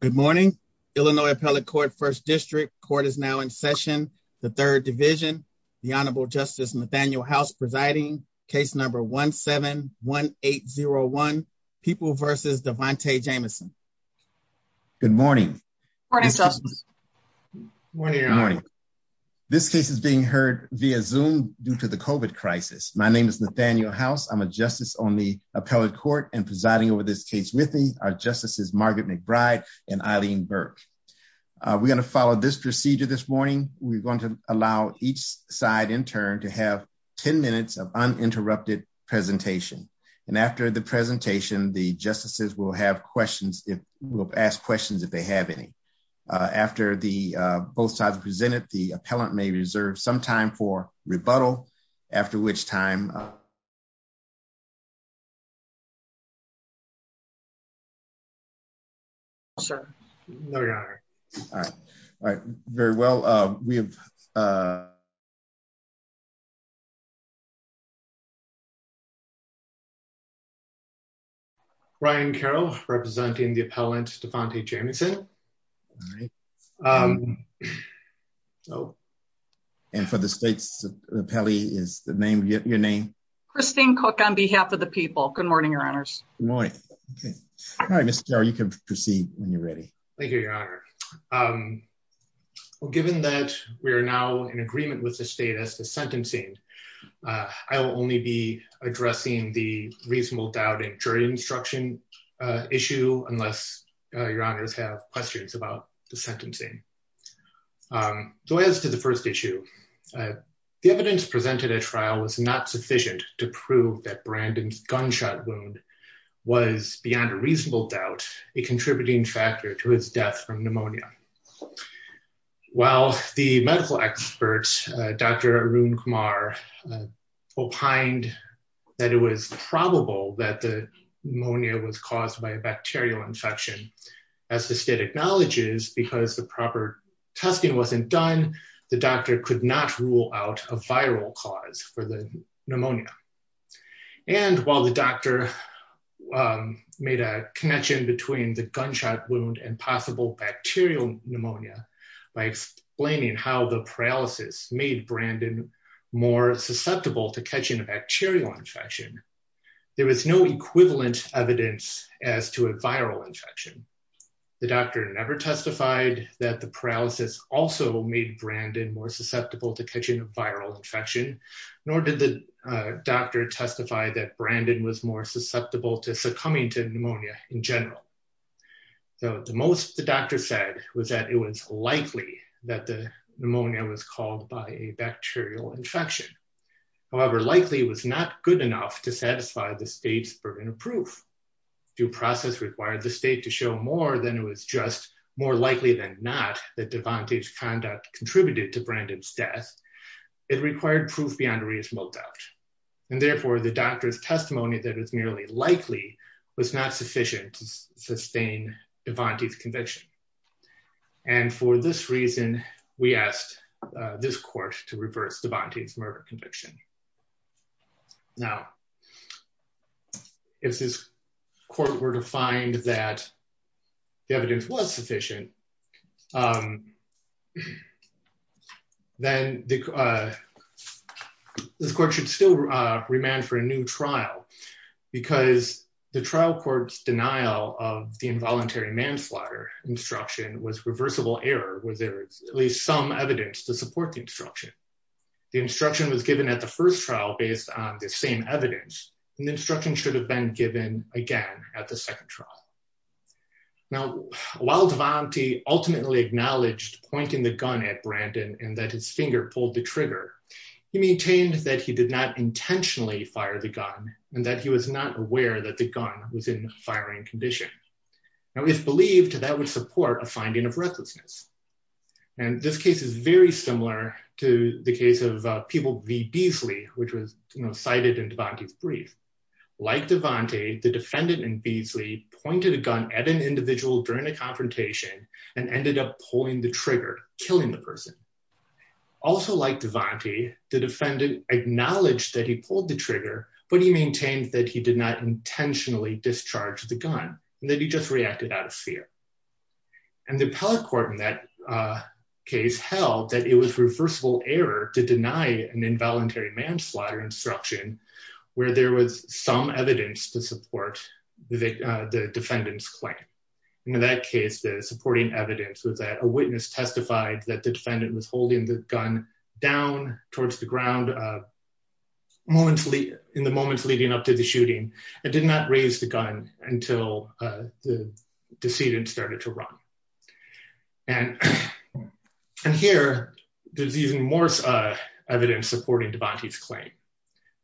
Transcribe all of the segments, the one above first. Good morning, Illinois Appellate Court, First District. Court is now in session, the Third Division. The Honorable Justice Nathaniel House presiding, case number 17-1801, People v. Devante Jamison. Good morning. Good morning, Justice. Good morning, Your Honor. This case is being heard via Zoom due to the COVID crisis. My name is Nathaniel House, I'm a justice on the Appellate Court and presiding over this case with me. Our and Eileen Burke. We're going to follow this procedure this morning. We're going to allow each side in turn to have 10 minutes of uninterrupted presentation. And after the presentation, the justices will have questions, will ask questions if they have any. After the both sides have presented, the appellant may reserve some time for rebuttal, after which time I'll turn it over to you, Your Honor. All right, very well. We have Ryan Carroll representing the appellant Devante Jamison. All right. And for the state's appellee, is the name your name? Christine Cook on behalf of the people. Good morning, Your Honors. Good morning. All right, Mr. Carroll, you can proceed when you're ready. Thank you, Your Honor. Well, given that we are now in agreement with the state as to sentencing, I will only be addressing the reasonable doubt and jury instruction issue unless Your Honors have questions about the sentencing. So as to the first issue, the evidence presented at trial was not sufficient to prove that Brandon's gunshot wound was beyond a reasonable doubt, a contributing factor to his death from pneumonia. While the medical experts, Dr. Arun Kumar, opined that it was probable that the pneumonia was caused by a bacterial infection, as the state acknowledges, because the proper testing wasn't done, the doctor could not rule out a viral cause for the pneumonia. And while the doctor made a connection between the gunshot wound and possible bacterial pneumonia by explaining how the paralysis made Brandon more susceptible to catching a bacterial infection, there was no viral infection. The doctor never testified that the paralysis also made Brandon more susceptible to catching a viral infection, nor did the doctor testify that Brandon was more susceptible to succumbing to pneumonia in general. So the most the doctor said was that it was likely that the pneumonia was caused by a bacterial infection. However, likely was not good enough to satisfy the state's burden of proof. Due process required the state to show more than it was just more likely than not that Devante's conduct contributed to Brandon's death. It required proof beyond a reasonable doubt. And therefore, the doctor's testimony that it's merely likely was not sufficient to sustain Devante's conviction. And for this reason, we asked this court to reverse Devante's murder conviction. Now, if this court were to find that the evidence was sufficient, then this court should still remand for a new trial, because the trial court's denial of the involuntary manslaughter instruction was reversible error, was there at least some evidence to support the instruction. The instruction was given at the first trial based on the same evidence, and the instruction should have been given again at the second trial. Now, while Devante ultimately acknowledged pointing the gun at Brandon and that his finger pulled the trigger, he maintained that he did not intentionally fire the gun and that he was not aware that the gun was in firing condition. Now, if believed, that would support a finding of recklessness. And this case is very similar to the case of People v. Beasley, which was cited in Devante's brief. Like Devante, the defendant in Beasley pointed a gun at an individual during a confrontation and ended up pulling the trigger, killing the person. Also like Devante, the defendant acknowledged that he pulled the trigger, but he maintained that he did not intentionally discharge the gun and that he just reacted out of fear. And the appellate court in that case held that it was reversible error to deny an involuntary manslaughter instruction where there was some evidence to support the defendant's claim. In that case, the supporting evidence was that a witness testified that the defendant was in the moments leading up to the shooting and did not raise the gun until the decedent started to run. And here, there's even more evidence supporting Devante's claim.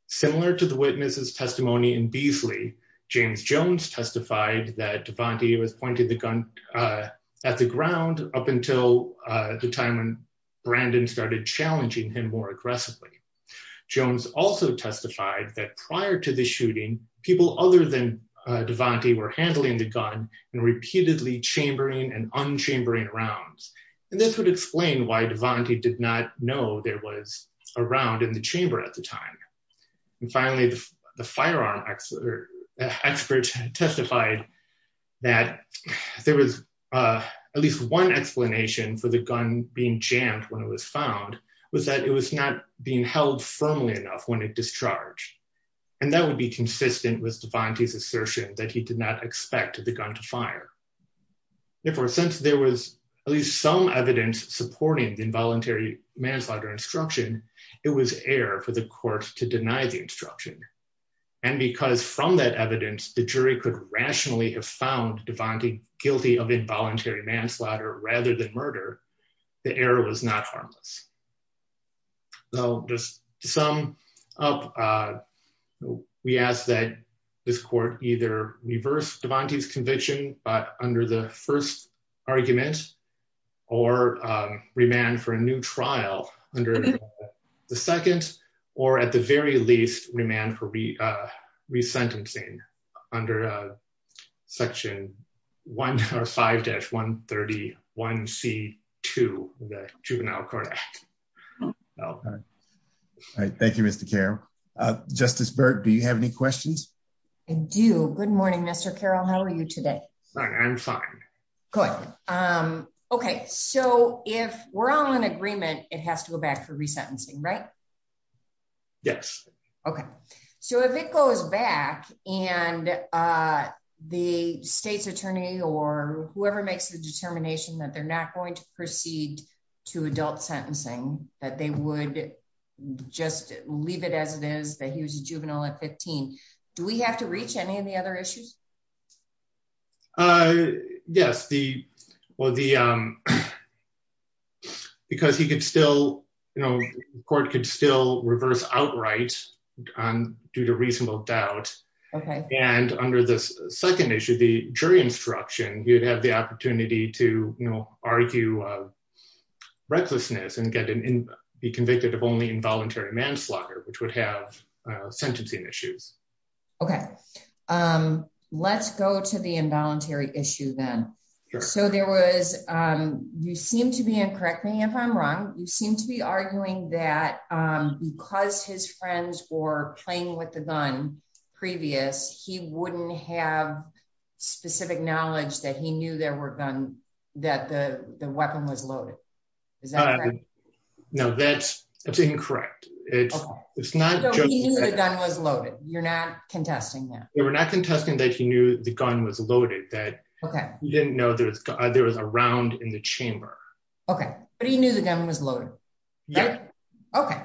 Similar to the witness's testimony in Beasley, James Jones testified that Devante was pointing the gun at the ground up until the time when Brandon started challenging him more aggressively. Jones also testified that prior to the shooting, people other than Devante were handling the gun and repeatedly chambering and unchambering rounds. And this would explain why Devante did not know there was a round in the chamber at the time. And finally, the firearm expert testified that there was at least one explanation for the gun being jammed when it was found was that it was not being held firmly enough when it discharged. And that would be consistent with Devante's assertion that he did not expect the gun to fire. Therefore, since there was at least some evidence supporting the involuntary manslaughter instruction, it was error for the court to deny the instruction. And because from that evidence, the jury could rationally have found Devante guilty of involuntary manslaughter rather than murder, the error was not harmless. So just to sum up, we ask that this court either reverse Devante's conviction but under the first argument or remand for a new trial under the second, or at the very least, remand for resentencing under Section 5-131C2 of the Juvenile Court Act. All right. Thank you, Mr. Carroll. Justice Burt, do you have any questions? I do. Good morning, Mr. Carroll. How are you today? Fine. I'm fine. Good. Okay. So if we're all in agreement, it has to go back for resentencing, right? Yes. Okay. So if it goes back and the state's attorney or whoever makes the determination that they're not going to proceed to adult sentencing, that they would just leave it as it is, that he was a juvenile at 15, do we have to reach any of the other issues? Yes. Because the court could still reverse outright due to reasonable doubt. And under the second issue, the jury instruction, you'd have the opportunity to argue recklessness and be convicted of only involuntary manslaughter, which would have sentencing issues. Okay. Let's go to the involuntary issue then. So there was, you seem to be, and correct me if I'm wrong, you seem to be arguing that because his friends were playing with the gun previous, he wouldn't have specific knowledge that he knew there were guns, that the weapon was loaded. Is that correct? No, that's incorrect. It's not- He knew the gun was loaded. You're not contesting that. We're not contesting that he knew the gun was loaded, that he didn't know there was a round in the chamber. Okay. But he knew the gun was loaded. Okay.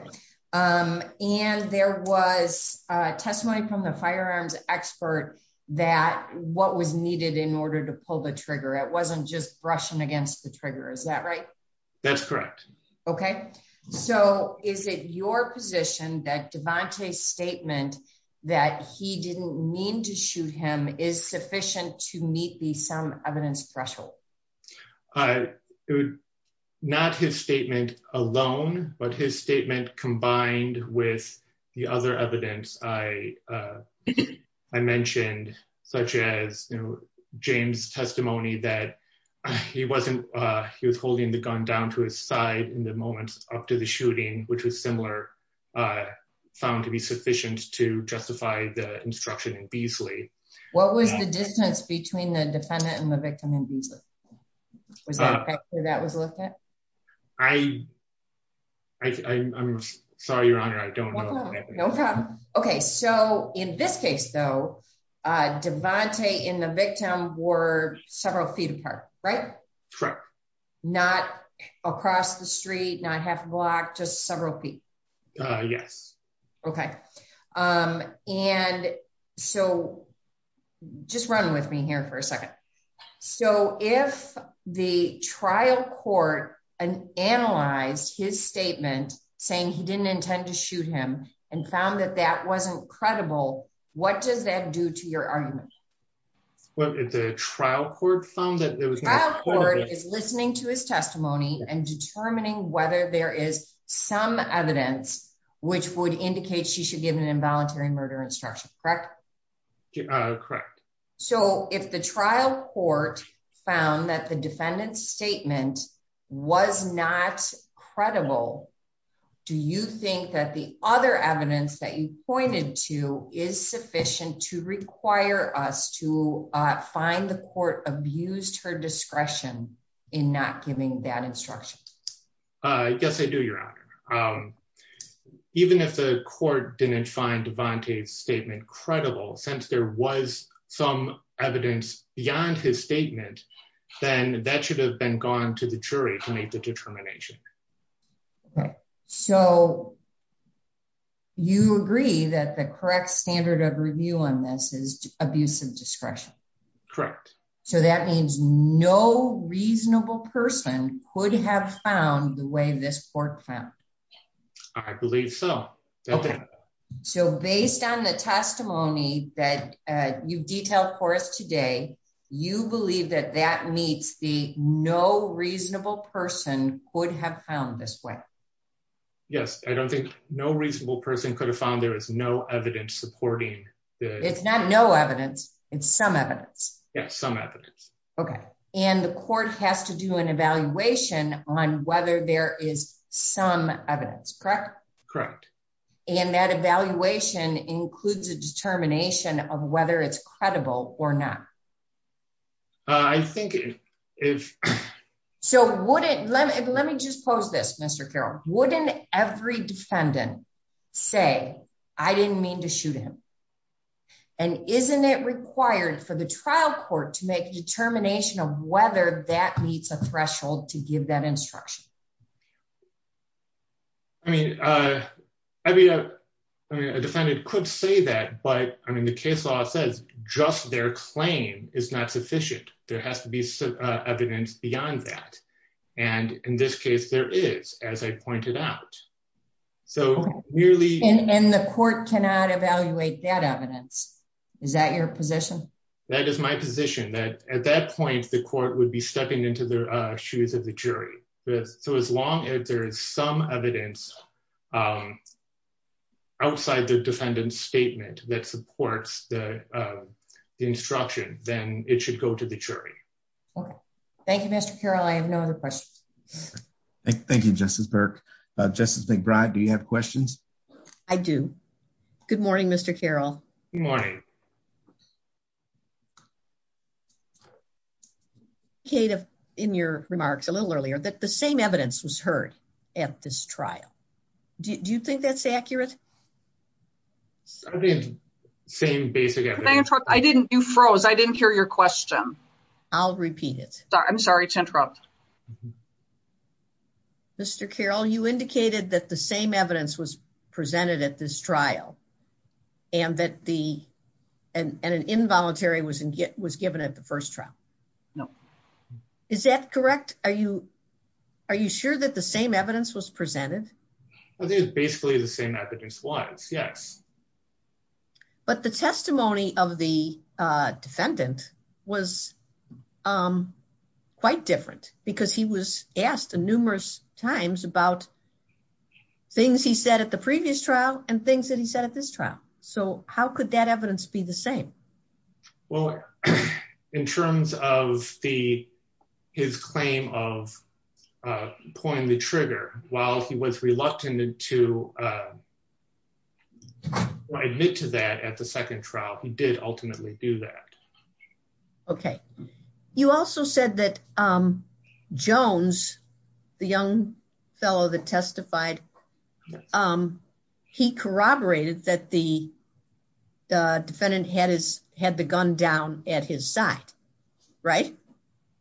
And there was a testimony from the firearms expert that what was needed in order to pull the trigger, it wasn't just brushing against the trigger. Is that right? That's correct. Okay. So is it your position that Devante's statement that he didn't mean to shoot him is sufficient to meet the sum evidence threshold? Not his statement alone, but his statement combined with the other evidence I mentioned, such as James' testimony that he was holding the gun down to his side in the moment up to the shooting, which was similar, found to be sufficient to justify the instruction in Beasley. What was the distance between the defendant and the victim in Beasley? Was that a factor that was looked at? I'm sorry, Your Honor. I don't know. No problem. Okay. So in this case, though, Devante and the victim were several feet apart, right? Not across the street, not half a block, just several feet. Yes. Okay. And so just run with me here for a second. So if the trial court analyzed his statement saying he didn't intend to shoot him and found that that wasn't credible, what does that do to your argument? If the trial court found that there was... The trial court is listening to his testimony and determining whether there is some evidence which would indicate she should give an involuntary murder instruction, correct? Correct. So if the trial court found that the defendant's statement was not credible, do you think that the other evidence that you pointed to is sufficient to require us to find the court abused her discretion in not giving that instruction? Yes, I do, Your Honor. Even if the court didn't find Devante's statement credible, since there was some evidence beyond his statement, then that should have been gone to the jury to make the determination. Okay. So you agree that the correct standard of review on this is abuse of discretion? Correct. So that means no reasonable person could have found the way this court found? I believe so. So based on the testimony that you detailed for us today, you believe that that meets the no reasonable person could have found this way? Yes. I don't think no reasonable person could have found there is no evidence supporting the... It's not no evidence, it's some evidence. Yes, some evidence. Okay. And the court has to do an evaluation on whether there is some evidence, correct? Correct. And that evaluation includes a determination of whether it's credible or not? I think if... So let me just pose this, Mr. Carroll, wouldn't every defendant say, I didn't mean to shoot him? And isn't it required for the trial court to make a determination of whether that meets a threshold to give that instruction? I mean, a defendant could say that, but I mean, the case law says just their claim is not sufficient. There has to be some evidence beyond that. And in this case, there is, as I pointed out. So nearly... And the court cannot evaluate that evidence. Is that your position? That is my position, that at that point, the court would be stepping into the shoes of the jury. So as long as there is some evidence outside the defendant's statement that supports the instruction, then it should go to the jury. Okay. Thank you, Mr. Carroll. I have no other questions. Thank you, Justice Burke. Justice McBride, do you have questions? I do. Good morning, Mr. Carroll. Good morning. You indicated in your remarks a little earlier that the same evidence was heard at this trial. Do you think that's accurate? Same basic evidence. I didn't... You froze. I didn't hear your question. I'll repeat it. I'm sorry to interrupt. Mr. Carroll, you indicated that the same evidence was presented at this trial and that the... And an involuntary was given at the first trial. No. Is that correct? Are you sure that the same evidence was presented? I think it's basically the same evidence-wise, yes. But the testimony of the defendant was quite different because he was asked numerous times about things he said at the previous trial and things that he said at this trial. So how could that evidence be the same? Well, in terms of his claim of pulling the trigger, while he was reluctant to admit to that at the second trial, he did ultimately do that. Okay. You also said that Jones, the young fellow that testified, he corroborated that the defendant had the gun down at his side, right?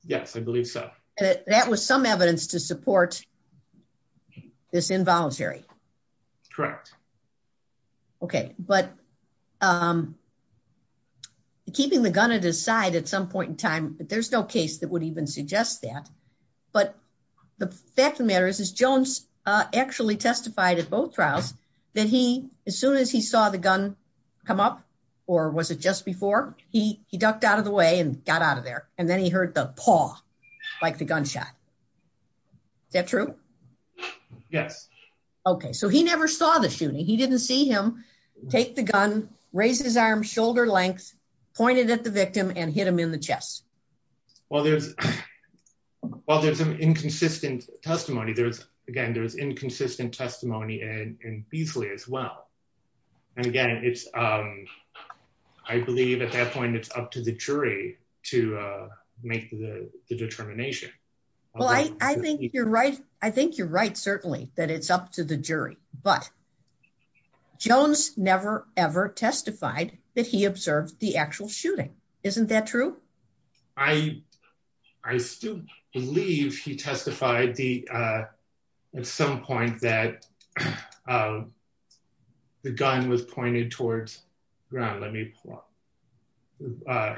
Yes, I believe so. That was some evidence to support this involuntary. Correct. Okay. But keeping the gun at his side at some point in time, there's no case that would even suggest that. But the fact of the matter is Jones actually testified at both trials that as soon as he saw the gun come up, or was it just before, he ducked out of the way and got out of there. And then he heard the paw, like the gunshot. Is that true? Yes. Okay. So he never saw the shooting. He didn't see him take the gun, raise his arm, shoulder length, pointed at the victim and hit him in the chest. Well, there's some inconsistent testimony. Again, there's inconsistent testimony in Beasley as well. And again, I believe at that point, it's up to the jury to make the determination. Well, I think you're right. I think you're right, certainly, that it's up to the jury. But Jones never, ever testified that he observed the actual shooting. Isn't that true? I still believe he testified at some point that the gun was pointed towards... Ron, let me pull up.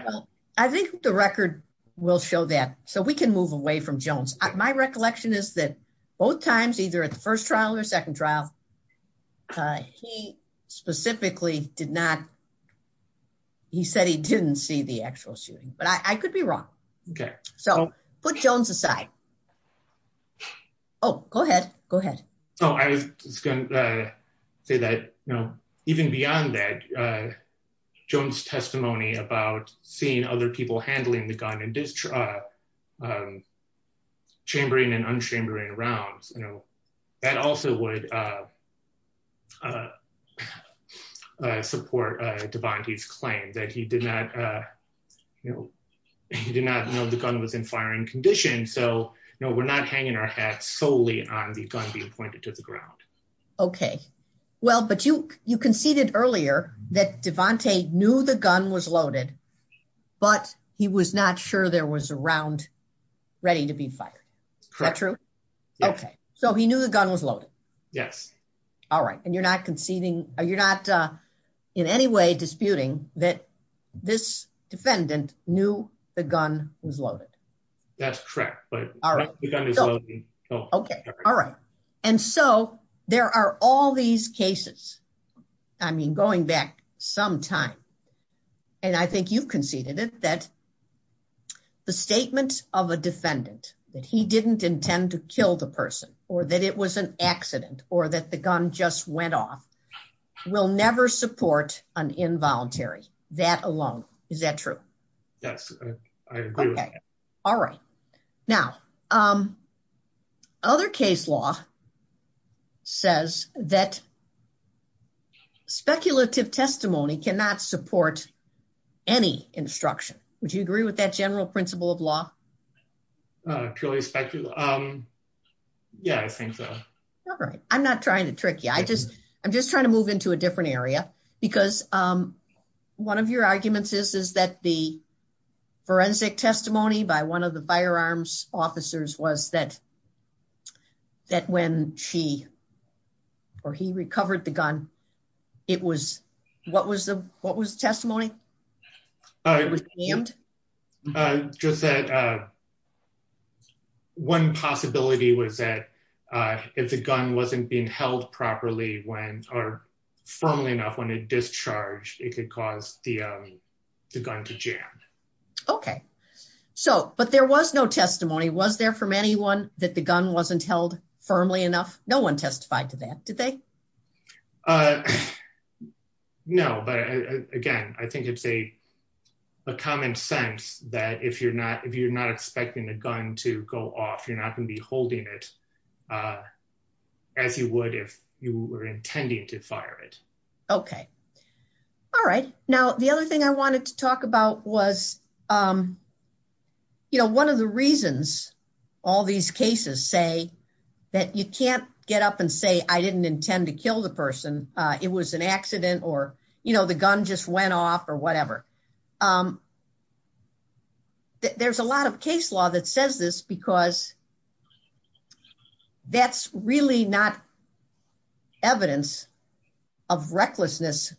I think the record will show that. So we can move away from Jones. My recollection is that both times, either at the first trial or second trial, he specifically did not... He said he didn't see the actual shooting. But I could be wrong. Okay. So put Jones aside. Oh, go ahead. Go ahead. So I was going to say that even beyond that, Jones' testimony about seeing other people handling the gun and chambering and unchambering rounds, that also would support Devante's claim that he did not know the gun was in firing condition. So we're not hanging our hats solely on the gun being pointed to the ground. Okay. Well, but you conceded earlier that Devante knew the gun was loaded, but he was not sure there was a round ready to be fired. Correct. Is that true? Okay. So he knew the gun was loaded? Yes. All right. And you're not conceding... You're not in any way disputing that this defendant knew the gun was loaded? That's correct. But the gun is loaded. Okay. All right. And so there are all these cases. I mean, going back some time, and I think you've conceded it, that the statement of a defendant that he didn't intend to kill the person or that it was an accident or that the gun just went off will never support an involuntary, that alone. Is that true? Yes, I agree. Okay. All right. Now, other case law says that speculative testimony cannot support any instruction, would you agree with that general principle of law? Purely speculative. Yeah, I think so. All right. I'm not trying to trick you. I'm just trying to move into a different area, because one of your arguments is that the forensic testimony by one of the firearms officers was that when he recovered the gun, it was... What was the testimony? It was jammed? Just that one possibility was that if the gun wasn't being held properly or firmly enough when it discharged, it could cause the gun to jam. Okay. So, but there was no testimony. Was there from anyone that the gun wasn't held firmly enough? No one testified to that, did they? Uh, no. But again, I think it's a common sense that if you're not expecting a gun to go off, you're not going to be holding it as you would if you were intending to fire it. Okay. All right. Now, the other thing I wanted to talk about was, you know, one of the reasons all these cases say that you can't get up and say, I didn't intend to kill the person. It was an accident or, you know, the gun just went off or whatever. There's a lot of case law that says this because that's really not evidence of recklessness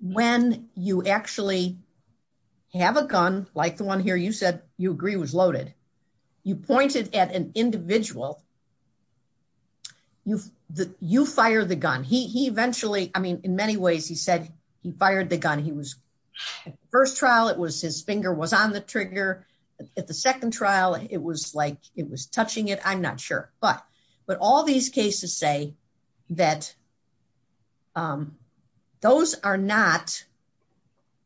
when you actually have a gun, like the one here, you said you agree was loaded. You pointed at an individual. You fire the gun. He eventually, I mean, in many ways, he said he fired the gun. He was first trial. It was his finger was on the trigger at the second trial. It was like it was touching it. I'm not sure. But, but all these cases say that those are not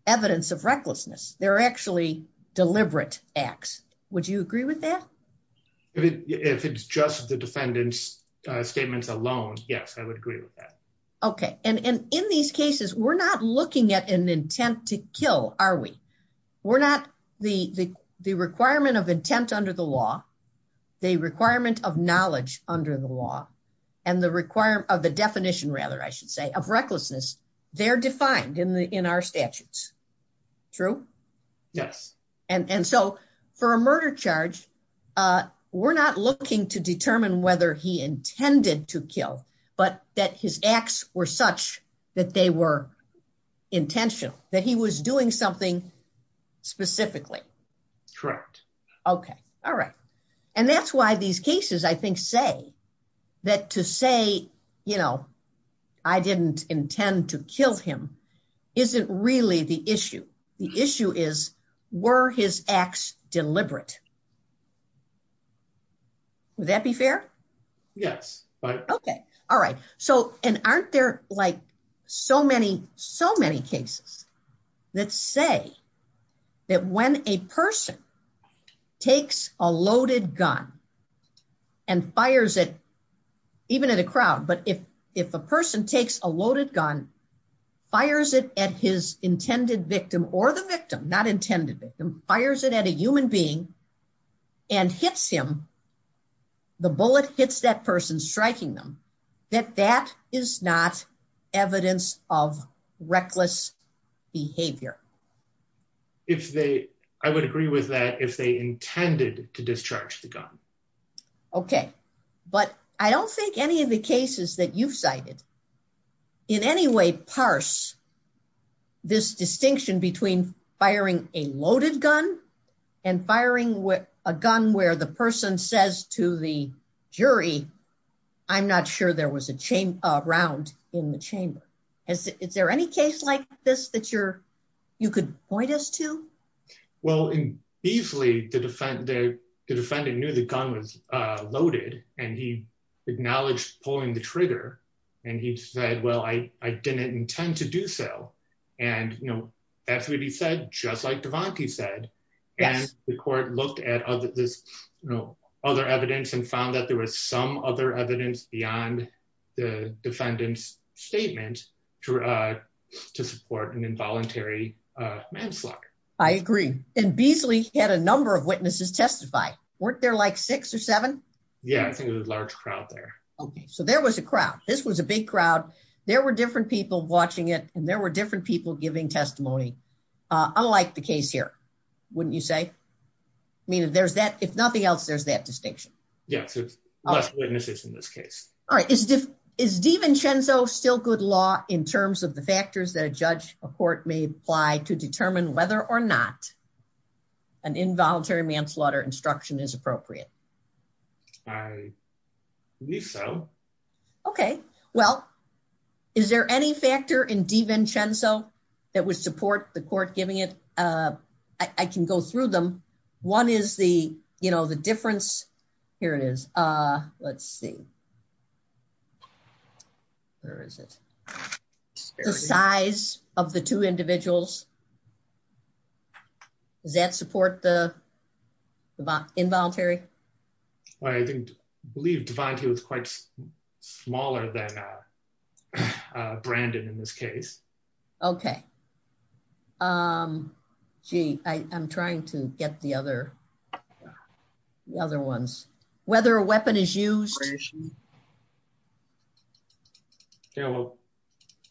evidence of recklessness. They're actually deliberate acts. Would you agree with that? If it's just the defendant's statements alone, yes, I would agree with that. Okay. And in these cases, we're not looking at an intent to kill, are we? We're not the requirement of intent under the law, the requirement of knowledge under the law, and the requirement of the definition, rather, I should say, of recklessness. They're defined in our statutes. True? Yes. And so for a murder charge, we're not looking to determine whether he intended to kill, but that his acts were such that they were intentional, that he was doing something specifically. Correct. Okay. All right. And that's why these cases, I think, say that to say, you know, I didn't intend to kill him isn't really the issue. The issue is, were his acts deliberate? Would that be fair? Yes. Okay. All right. So, and aren't there, like, so many, so many cases that say that when a person takes a loaded gun and fires it, even at a crowd, but if a person takes a loaded gun, fires it at his intended victim or the victim, not intended victim, fires it at a human being and hits him, the bullet hits that person striking them, that that is not evidence of reckless behavior. If they, I would agree with that, if they intended to discharge the gun. Okay. But I don't think any of the cases that you've cited in any way, parse this distinction between firing a loaded gun and firing a gun where the person says to the jury, I'm not sure there was a round in the chamber. Is there any case like this that you're, you could point us to? Well, in Beazley, the defendant knew the gun was loaded and he acknowledged pulling the trigger. And he said, well, I didn't intend to do so. And, you know, that's what he said, just like DeVonte said. And the court looked at this, you know, other evidence and found that there was some other evidence beyond the defendant's statement to support an involuntary manslaughter. And Beazley had a number of witnesses testify. Weren't there like six or seven? Yeah, I think it was a large crowd there. Okay. So there was a crowd. This was a big crowd. There were different people watching it. And there were different people giving testimony. Unlike the case here, wouldn't you say? I mean, if there's that, if nothing else, there's that distinction. Yes, there's less witnesses in this case. All right. Is DeVincenzo still good law in terms of the factors that a judge, a court may apply to determine whether or not an involuntary manslaughter instruction is appropriate? I think so. Okay. Well, is there any factor in DeVincenzo that would support the court giving it? I can go through them. One is the, you know, the difference. Here it is. Let's see. Where is it? The size of the two individuals. Does that support the involuntary? Well, I believe DeVinci was quite smaller than Brandon in this case. Okay. Gee, I'm trying to get the other ones. Whether a weapon is used.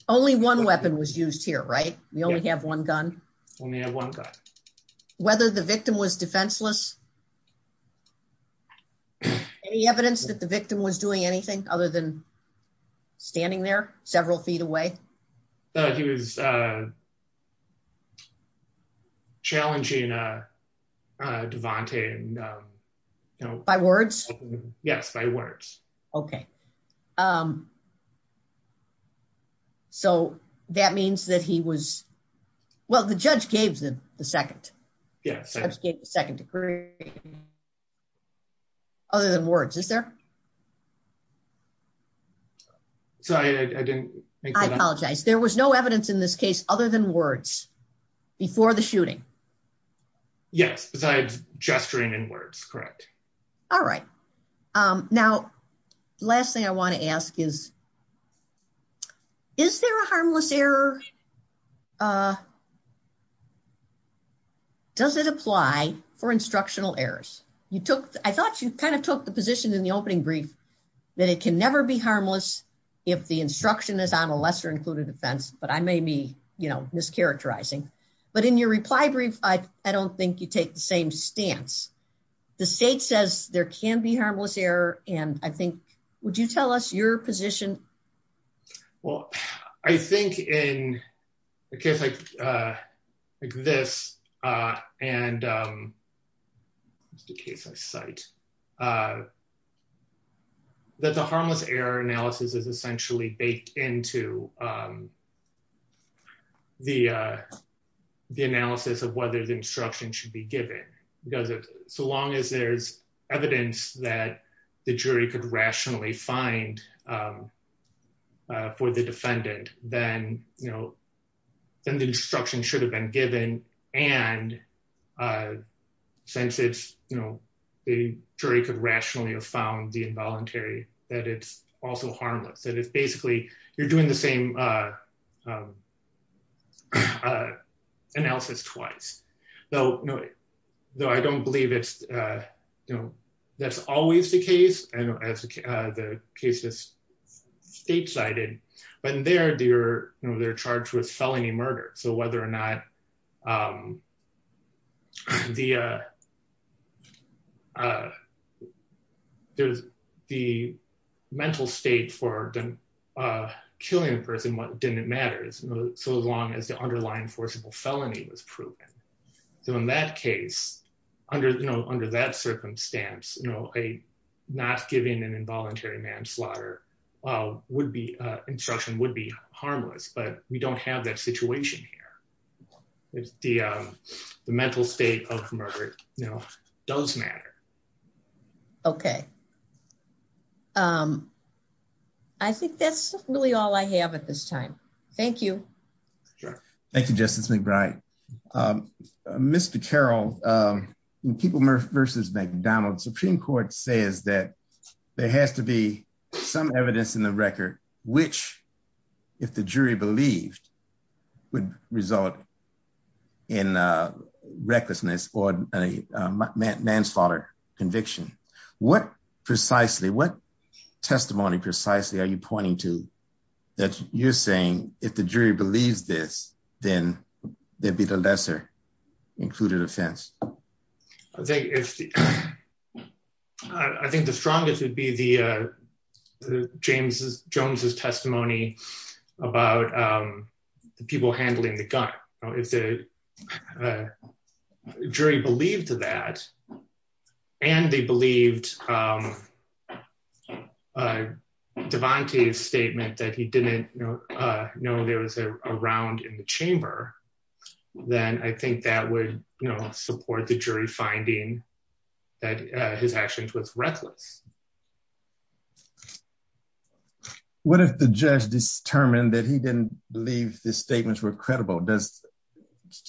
Only one weapon was used here, right? We only have one gun. We only have one gun. Whether the victim was defenseless. Any evidence that the victim was doing anything other than standing there several feet away? He was challenging Devante. By words? Yes, by words. Okay. So that means that he was... Well, the judge gave the second. Yes. Other than words, is there? Sorry, I didn't make that up. I apologize. There was no evidence in this case other than words before the shooting? Yes, besides gesturing and words. Correct. All right. Now, last thing I want to ask is, is there a harmless error? Does it apply for instructional errors? I thought you kind of took the position in the opening brief that it can never be harmless if the instruction is on a lesser included offense, but I may be mischaracterizing. But in your reply brief, I don't think you take the same stance. The state says there can be harmless error. And I think... Would you tell us your position? Well, I think in a case like this and the case I cite, that the harmless error analysis is essentially baked into the analysis of whether the instruction should be given. Because so long as there's evidence that the jury could rationally find for the defendant, then the instruction should have been given. And since the jury could rationally have found the involuntary, that it's also harmless. And it's basically, you're doing the same analysis twice. Though I don't believe that's always the case. I know the case is statesided. But in there, they're charged with felony murder. So whether or not the mental state for killing a person didn't matter, so long as the underlying forcible felony was proven. So in that case, under that circumstance, not giving an involuntary manslaughter instruction would be harmless. But we don't have that situation here. The mental state of murder does matter. Okay. I think that's really all I have at this time. Thank you. Thank you, Justice McBride. Mr. Carroll, when People versus McDonald, Supreme Court says that there has to be some evidence in the record, which, if the jury believed, would result in recklessness or a manslaughter conviction. What precisely, what testimony precisely are you pointing to that you're saying, if the jury believes this, then there'd be the lesser included offense? I think the strongest would be the James Jones's testimony about the people handling the gun. If the jury believed that, and they believed Devontae's statement that he didn't know there was a round in the chamber, then I think that would support the jury finding that his actions was reckless. What if the judge determined that he didn't believe the statements were credible?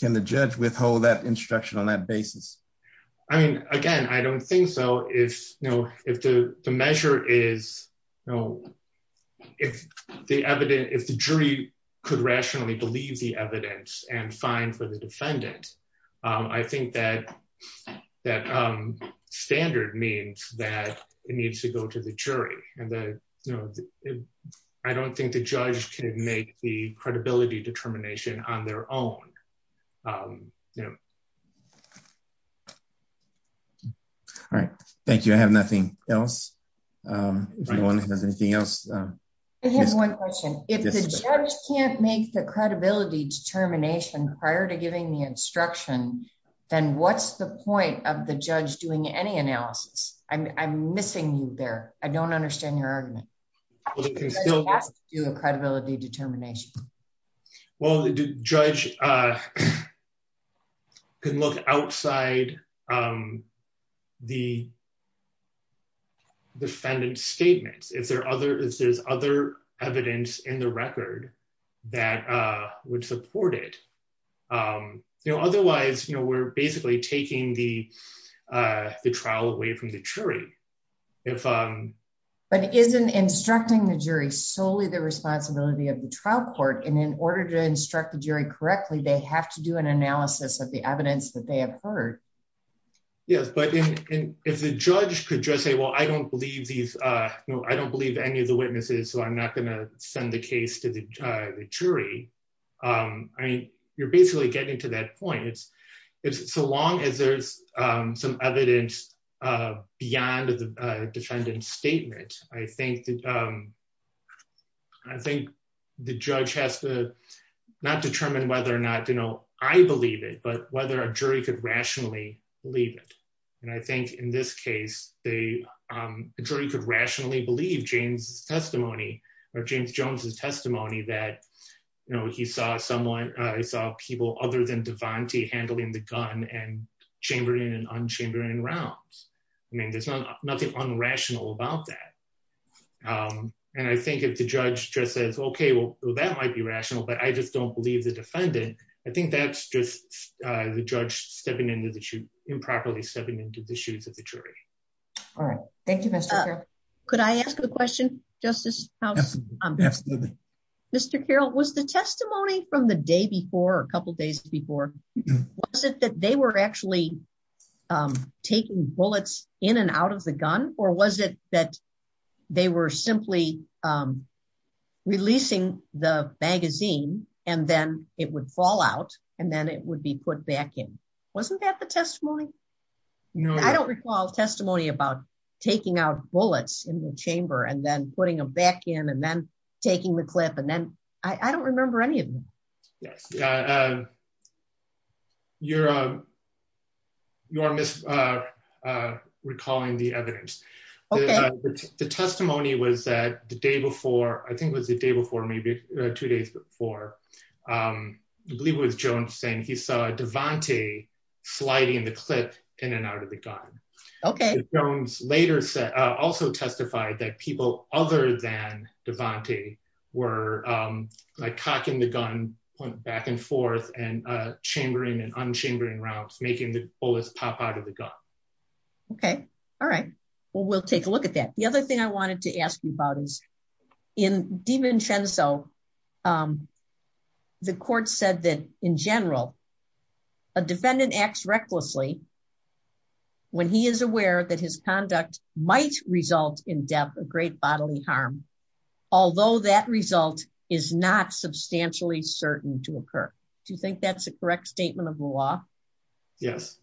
Can the judge withhold that instruction on that basis? I mean, again, I don't think so. If the jury could rationally believe the evidence and fine for the defendant, I think that standard means that it needs to go to the jury. I don't think the judge can make the credibility determination on their own. All right. Thank you. I have nothing else. If anyone has anything else. I have one question. If the judge can't make the credibility determination prior to giving the instruction, then what's the point of the judge doing any analysis? I'm missing you there. I don't understand your argument. The judge has to do a credibility determination. Well, the judge can look outside the defendant's statements. There's other evidence in the record that would support it. Otherwise, we're basically taking the trial away from the jury. But isn't instructing the jury solely the responsibility of the trial court? And in order to instruct the jury correctly, they have to do an analysis of the evidence that they have heard. Yes. But if the judge could just say, well, I don't believe any of the witnesses, so I'm not going to send the case to the jury. I mean, you're basically getting to that point. So long as there's some evidence beyond the defendant's statement, I think the judge has to not determine whether or not I believe it, but whether a jury could rationally believe it. And I think in this case, the jury could rationally believe James' testimony or James Jones' testimony that he saw people other than Devante handling the gun and chambering and unchambering rounds. I mean, there's nothing unrational about that. And I think if the judge just says, OK, well, that might be rational, but I just don't believe the defendant, I think that's just the judge improperly stepping into the shoes of the jury. All right. Thank you, Mr. Carroll. Could I ask a question, Justice House? Mr. Carroll, was the testimony from the day before, a couple of days before, was it that they were actually taking bullets in and out of the gun, or was it that they were simply releasing the magazine and then it would fall out and then it would be put back in? Wasn't that the testimony? No, I don't recall testimony about taking out bullets in the chamber and then putting them back in and then taking the clip. And then I don't remember any of them. Yes. You're misrecalling the evidence. The testimony was that the day before, I think it was the day before, maybe two days before, I believe it was Jones saying he saw Devante sliding the clip in and out of the gun. OK. Jones later also testified that people other than Devante were cocking the gun back and forth and chambering and unchambering rounds, making the bullets pop out of the gun. OK. All right. Well, we'll take a look at that. The other thing I wanted to ask you about is in DiVincenzo, the court said that in general, a defendant acts recklessly when he is aware that his conduct might result in death, a great bodily harm, although that result is not substantially certain to occur. Do you think that's a correct statement of the law? Yes.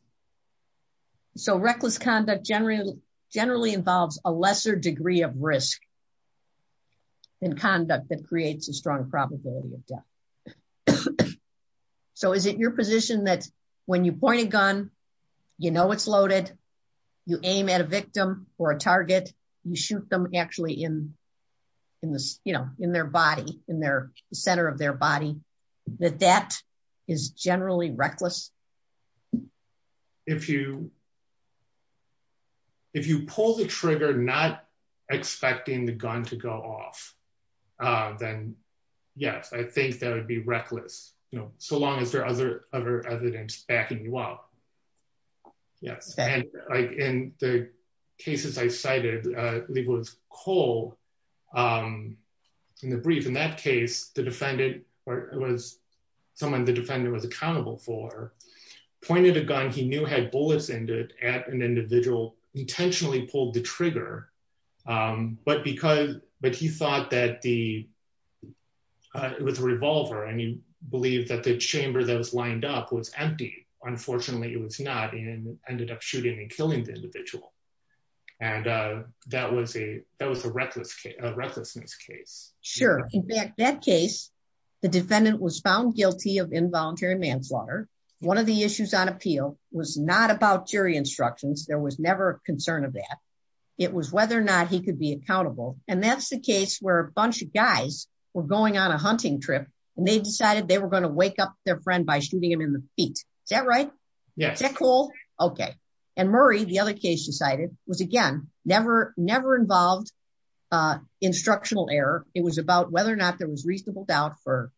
So reckless conduct generally involves a lesser degree of risk in conduct that creates a strong probability of death. OK. So is it your position that when you point a gun, you know it's loaded, you aim at a victim or a target, you shoot them actually in their body, in the center of their body, that that is generally reckless? If you pull the trigger not expecting the gun to go off, then yes, I think that would be reckless, you know, so long as there are other evidence backing you up. Yes. And like in the cases I cited, Leigh Woods Cole in the brief in that case, the defendant was someone the defendant was accountable for, pointed a gun he knew had bullets in it at an individual, intentionally pulled the trigger. But because, but he thought that the, it was a revolver and he believed that the chamber that was lined up was empty. Unfortunately, it was not and ended up shooting and killing the individual. And that was a, that was a reckless case, a recklessness case. Sure. In fact, that case, the defendant was found guilty of involuntary manslaughter. One of the issues on appeal was not about jury instructions. There was never a concern of that. It was whether or not he could be accountable. And that's the case where a bunch of guys were going on a hunting trip and they decided they were going to wake up their friend by shooting him in the feet. Is that right? Yeah. Is that cool? Okay. And Murray, the other case decided was again, never, never involved instructional error. It was about whether or not there was reasonable doubt for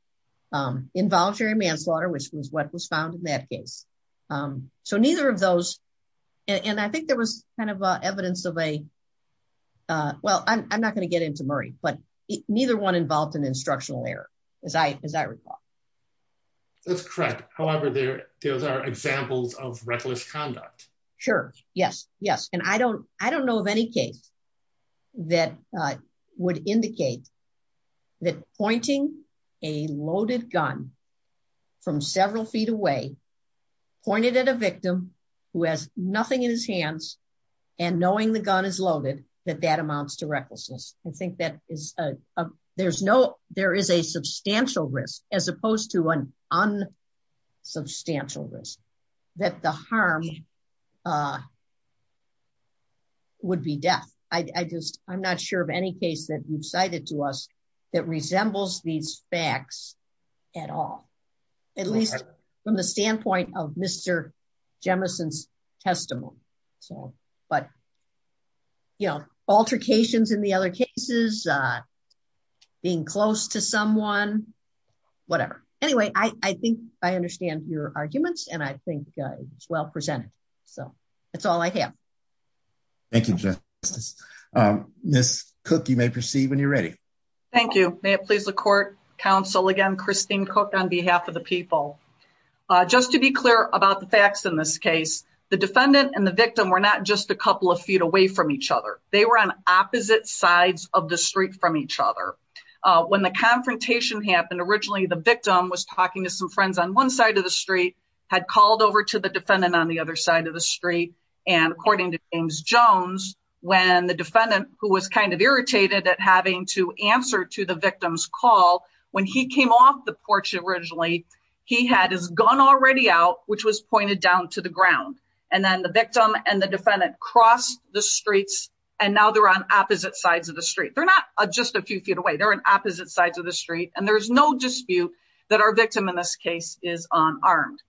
involuntary manslaughter, which was what was found in that case. So neither of those, and I think there was kind of evidence of a, well, I'm not going to get into Murray, but neither one involved in instructional error, as I recall. That's correct. However, there are examples of reckless conduct. Sure. Yes. Yes. And I don't, I don't know of any case that would indicate that pointing a loaded gun from several feet away, pointed at a victim who has nothing in his hands and knowing the gun is loaded, that that amounts to recklessness. I think that is, there's no, there is a substantial risk as opposed to an unsubstantial risk that the harm would be death. I just, I'm not sure of any case that you've cited to us that resembles these facts at all. At least from the standpoint of Mr. Jemison's testimony. So, but you know, altercations in the other cases, being close to someone, whatever. Anyway, I think I understand your arguments and I think it was well presented. So that's all I have. Thank you. Ms. Cook, you may proceed when you're ready. Thank you. May it please the court, counsel again, Christine Cook on behalf of the people. Just to be clear about the facts in this case, the defendant and the victim were not just a couple of feet away from each other. They were on opposite sides of the street from each other. When the confrontation happened, originally the victim was talking to some friends on one side of the street, had called over to the defendant on the other side of the street. And according to James Jones, when the defendant who was kind of irritated at having to answer to the victim's call, when he came off the porch originally, he had his gun already out, which was pointed down to the ground. And then the victim and the defendant crossed the streets and now they're on opposite sides of the street. They're not just a few feet away. They're on opposite sides of the street. And there's no dispute that our victim in this case is unarmed.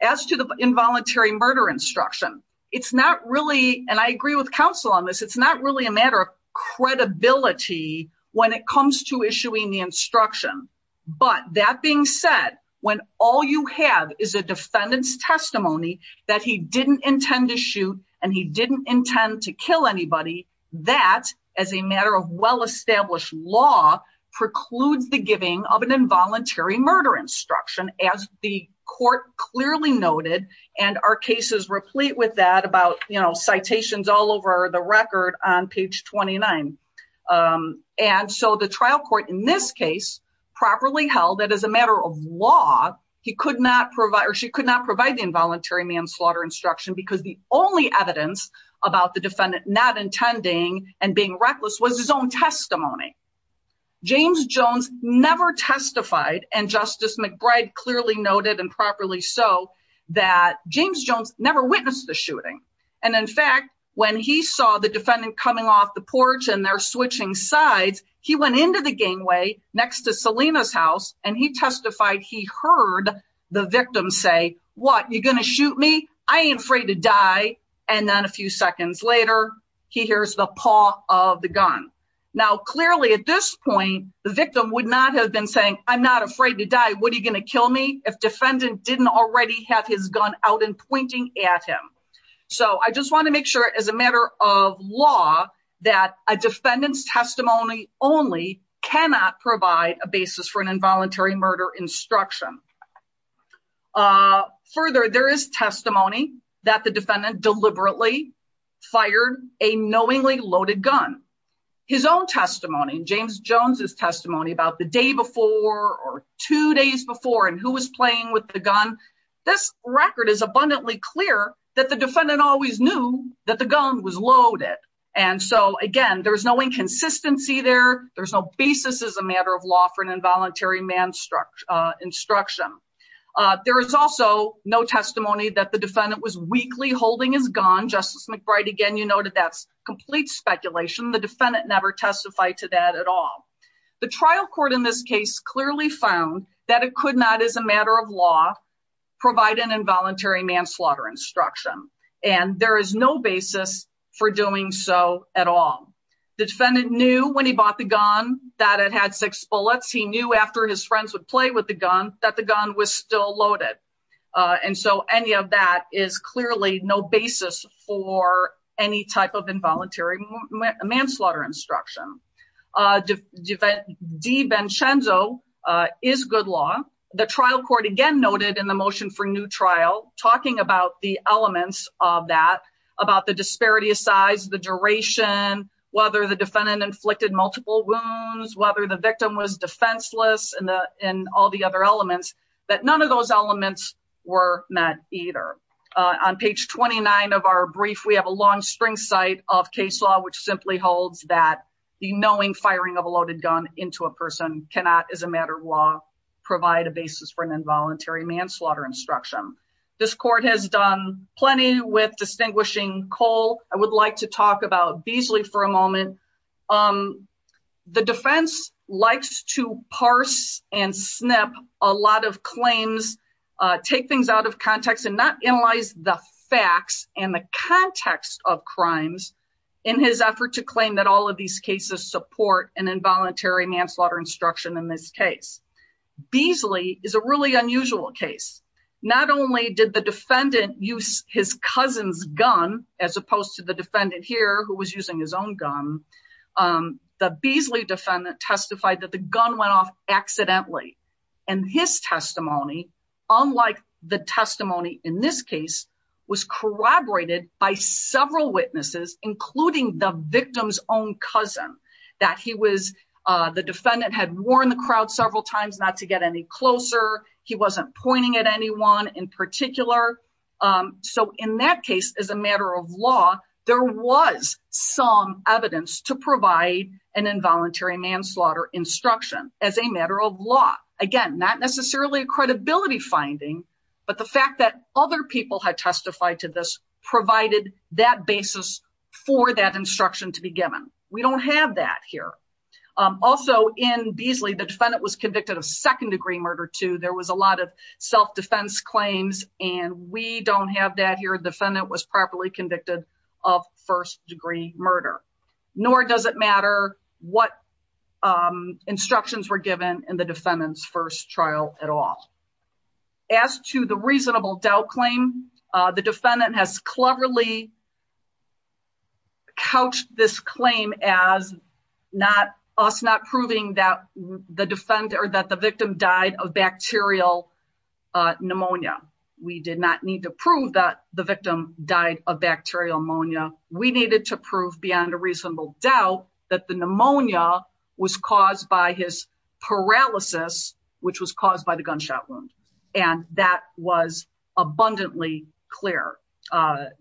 As to the involuntary murder instruction, it's not really, and I agree with counsel on this. It's not really a matter of credibility when it comes to issuing the instruction. But that being said, when all you have is a defendant's testimony that he didn't intend to shoot and he didn't intend to kill anybody, that as a matter of well-established law precludes the giving of an involuntary murder instruction, as the court clearly noted. And our cases replete with that about, you know, citations all over the record on page 29. And so the trial court in this case properly held that as a matter of law, he could not provide or she could not provide the involuntary manslaughter instruction because the only evidence about the defendant not intending and being reckless was his own testimony. James Jones never testified, and Justice McBride clearly noted and properly so, that James Jones never witnessed the shooting. And in fact, when he saw the defendant coming off the porch and they're switching sides, he went into the gangway next to Selena's house and he testified he heard the victim say, what, you're going to shoot me? I ain't afraid to die. And then a few seconds later, he hears the paw of the gun. Now, clearly at this point, the victim would not have been saying, I'm not afraid to die. What are you going to kill me? If defendant didn't already have his gun out and pointing at him. So I just want to make sure as a matter of law that a defendant's testimony only cannot provide a basis for an involuntary murder instruction. Further, there is testimony that the defendant deliberately fired a knowingly loaded gun. His own testimony, James Jones's testimony about the day before or two days before and who was playing with the gun. This record is abundantly clear that the defendant always knew that the gun was loaded. And so again, there's no inconsistency there. There's no basis as a matter of law for an involuntary man's instruction. There is also no testimony that the defendant was weakly holding his gun. Justice McBride, again, you noted that's complete speculation. The defendant never testified to that at all. The trial court in this case clearly found that it could not as a matter of law provide an involuntary manslaughter instruction. And there is no basis for doing so at all. The defendant knew when he bought the gun that it had six bullets. He knew after his friends would play with the gun that the gun was still loaded. And so any of that is clearly no basis for any type of involuntary manslaughter instruction. DiVincenzo is good law. The trial court again noted in the motion for new trial, talking about the elements of that, about the disparity of size, the duration, whether the defendant inflicted multiple wounds, whether the victim was defenseless and all the other elements, that none of those elements were met either. On page 29 of our brief, we have a long string site of case law, which simply holds that the knowing firing of a loaded gun into a person cannot as a matter of law provide a basis for an involuntary manslaughter instruction. This court has done plenty with distinguishing Cole. I would like to talk about Beasley for a moment. Um, the defense likes to parse and snip a lot of claims, take things out of context and not analyze the facts and the context of crimes in his effort to claim that all of these cases support an involuntary manslaughter instruction in this case. Beasley is a really unusual case. Not only did the defendant use his cousin's gun, as opposed to the defendant here who was using his own gun, the Beasley defendant testified that the gun went off accidentally. And his testimony, unlike the testimony in this case, was corroborated by several witnesses, including the victim's own cousin, that he was, the defendant had warned the crowd several times not to get any closer. He wasn't pointing at anyone in particular. So in that case, as a matter of law, there was some evidence to provide an involuntary manslaughter instruction as a matter of law. Again, not necessarily a credibility finding, but the fact that other people had testified to this provided that basis for that instruction to be given. We don't have that here. Also in Beasley, the defendant was convicted of second degree murder too. There was a lot of self-defense claims and we don't have that here. The defendant was properly convicted of first degree murder. Nor does it matter what instructions were given in the defendant's first trial at all. As to the reasonable doubt claim, the defendant has cleverly couched this claim as us not proving that the victim died of bacterial pneumonia. We did not need to prove that the victim died of bacterial pneumonia. We needed to prove beyond a reasonable doubt that the pneumonia was caused by his paralysis, which was caused by the gunshot wound. And that was abundantly clear.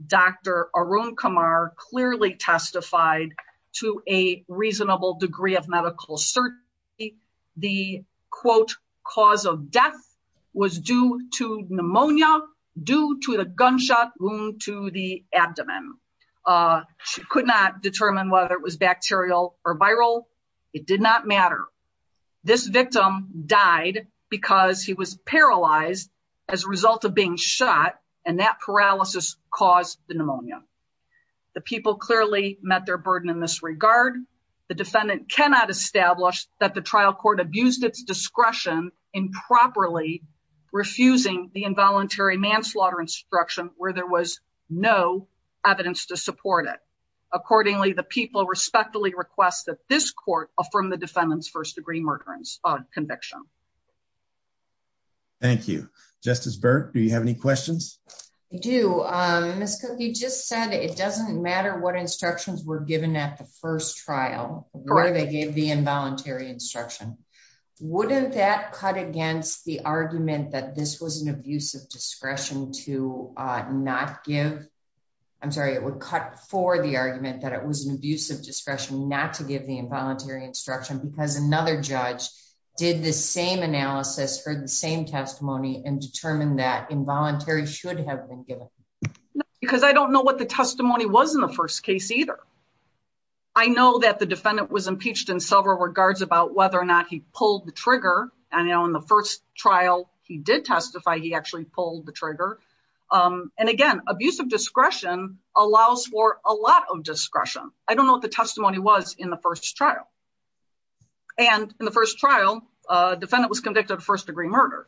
Dr. Arun Kumar clearly testified to a reasonable degree of medical certainty. The quote, cause of death was due to pneumonia due to the gunshot wound to the abdomen. She could not determine whether it was bacterial or viral. It did not matter. This victim died because he was paralyzed as a result of being shot. And that paralysis caused the pneumonia. The people clearly met their burden in this regard. The defendant cannot establish that the trial court abused its discretion improperly refusing the involuntary manslaughter instruction where there was no evidence to support it. Accordingly, the people respectfully request that this court affirm the defendant's first degree murder conviction. Thank you. Justice Burke, do you have any questions? I do. Ms. Cooke, you just said it doesn't matter what instructions were given at the first trial, where they gave the involuntary instruction. Wouldn't that cut against the argument that this was an abusive discretion to not give? I'm sorry, it would cut for the argument that it was an abusive discretion not to give the involuntary instruction because another judge did the same analysis, heard the same testimony and determined that involuntary should have been given. Because I don't know what the testimony was in the first case either. I know that the defendant was impeached in several regards about whether or not he pulled the trigger. And in the first trial, he did testify he actually pulled the trigger. And again, abusive discretion allows for a lot of discretion. I don't know what the testimony was in the first trial. And in the first trial, defendant was convicted of first degree murder.